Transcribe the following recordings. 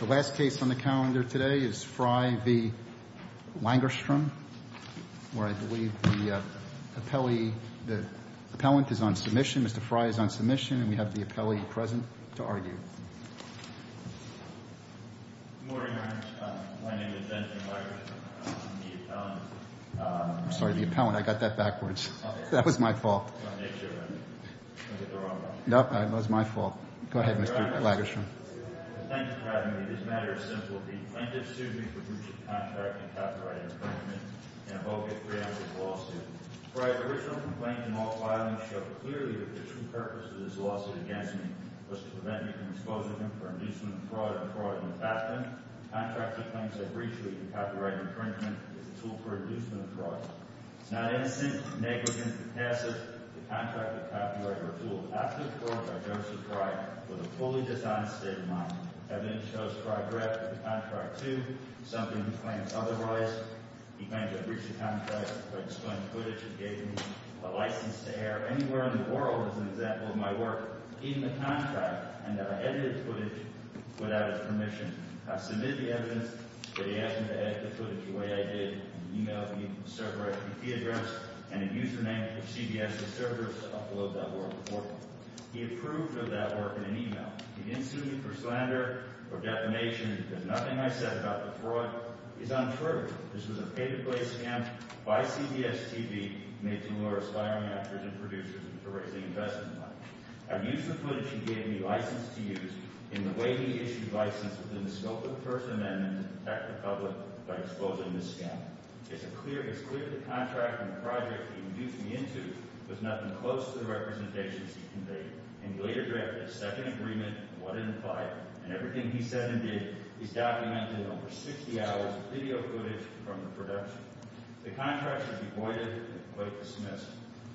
The last case on the calendar today is Frey v. Lagerstrom where I believe the appellee, the appellant is on submission Mr. Frey is on submission and we have the appellee present to argue Good morning, Your Honor. My name is Benjamin Lagerstrom. I'm the appellant I'm sorry, the appellant. I got that backwards. That was my fault That was my fault. Go ahead, Mr. Lagerstrom Thank you for having me. This matter is simple. The plaintiff sued me for breach of contract and copyright infringement in a bogus preemptive lawsuit. Frey's original complaint in all filing showed clearly that the true purpose of this lawsuit against me was to prevent me from exposing him for inducement of fraud and fraud in the past. Contractor claims I breached him for copyright infringement as a tool for inducement of fraud. It's not innocent, negligent, or passive to contract with copyright or tool. After the court, I noticed Frey with a fully dishonest state of mind Evidence shows Frey drafted the contract too, something he claims otherwise He claims I breached the contract by displaying footage and gave me a license to air anywhere in the world as an example of my work, even the contract, and that I edited footage without his permission. I submitted the evidence, but he asked me to edit the footage the way I did and e-mailed me the server IPP address and a username for CBS to serve as upload.org He approved of that work in an e-mail. He didn't sue me for slander or defamation. He did nothing I said about the fraud. He's on trial. This was a pay-to-play scam by CBS TV made to lure aspiring actors and producers to raise the investment money. I used the footage he gave me, licensed to use, in the way he issued license within the scope of the First Amendment to protect the public by exposing the scam It's clear the contract and the project he induced me into was nothing close to the representations he conveyed, and he later drafted a second agreement on what it implied and everything he said and did is documented in over 60 hours of video footage from the production The contract should be voided, but it was dismissed.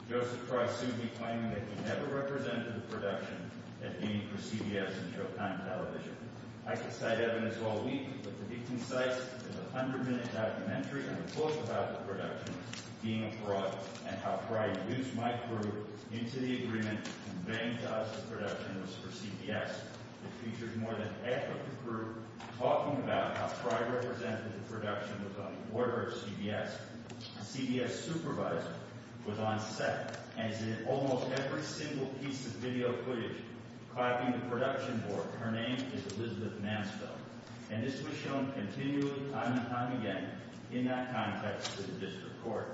Joseph Fry soon declaimed that he never represented the production at any for CBS and Showtime Television I could cite evidence all week, but the victim's site is a 100-minute documentary and a quote about the production, being a fraud, and how Fry used my crew into the agreement to ban jobs for production for CBS that featured more than half of the crew talking about how Fry represented the production with an order of CBS A CBS supervisor was on set and is in almost every single piece of video footage copying the production board. Her name is Elizabeth Mansfield And this was shown continually, time and time again, in that context to the district court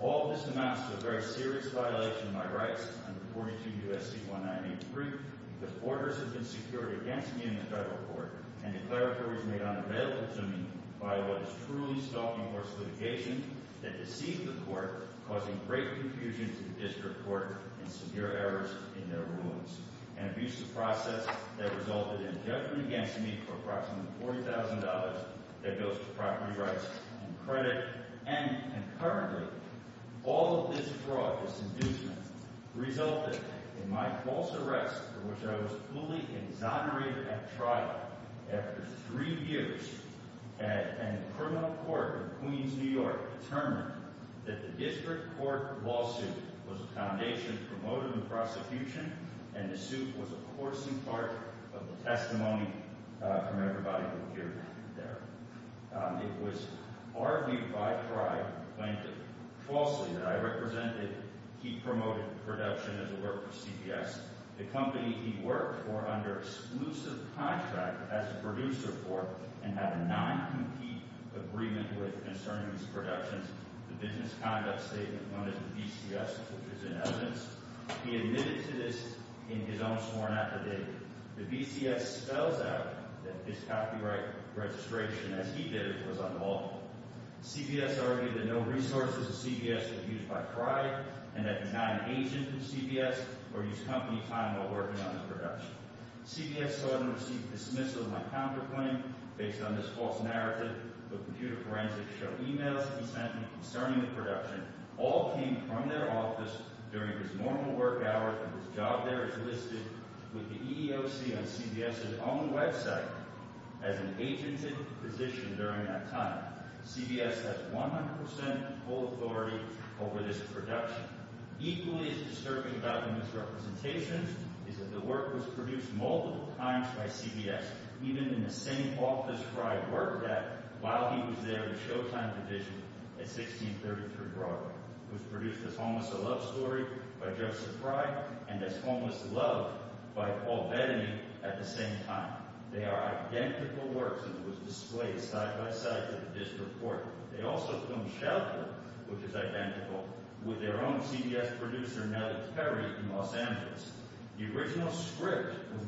All of this amounts to a very serious violation of my rights under 42 U.S.C. 1983 because orders had been secured against me in the federal court and declaratories made unavailable to me by what is truly stalking horse litigation that deceived the court causing great confusion to the district court and severe errors in their rulings An abusive process that resulted in a judgment against me for approximately $40,000 that goes to property rights and credit, and concurrently All of this fraud, this inducement, resulted in my false arrest for which I was fully exonerated at trial after three years and the criminal court in Queens, New York determined that the district court lawsuit was a foundation for motive and prosecution and the suit was a coarsely part of the testimony from everybody who appeared there It was argued by pride, claimed falsely, that I represented He promoted production as a work for CBS The company he worked for under exclusive contract as a producer for and had a non-compete agreement with concerning these productions The business conduct statement, known as the BCS, which is in evidence He admitted to this in his own sworn affidavit The BCS spells out that his copyright registration, as he did, was unlawful CBS argued that no resources of CBS were used by pride and that he's not an agent of CBS or used company time while working on his production CBS, however, received dismissal in my counterclaim based on this false narrative The computer forensics show emails he sent me concerning the production all came from their office during his normal work hour and his job there is listed with the EEOC on CBS's own website as an agented position during that time CBS has 100% full authority over this production Equally as disturbing about the misrepresentations is that the work was produced multiple times by CBS, even in the same office Frye worked at while he was there in the Showtime division at 1633 Broadway It was produced as Homeless, A Love Story by Joseph Frye and as Homeless, Love by Paul Bettany at the same time. They are identical works and it was displayed side-by-side with the District Court. They also filmed Shelter, which is identical, with their own produced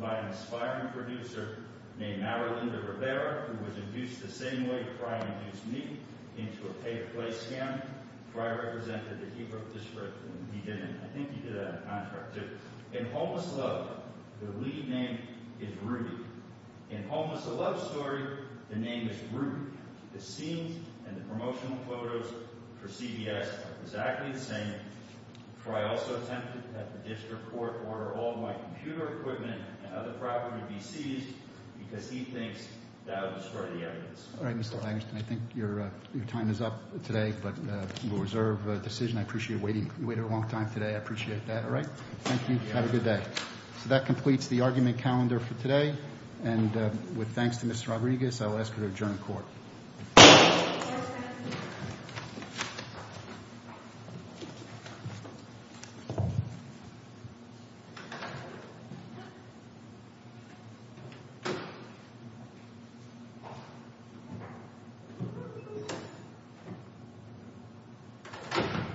by an aspiring producer named Marilinda Rivera, who was induced the same way Frye induced me into a pay-per-play scam. Frye represented the Hebrew District when he did it. I think he did it on contract too. In Homeless, Love, the lead name is Rudy In Homeless, A Love Story, the name is Rudy The scenes and the promotional photos for CBS are exactly the same Frye also attempted at the District Court to order all of my computer equipment and other property to be seized because he thinks that would destroy the evidence Thank you for watching!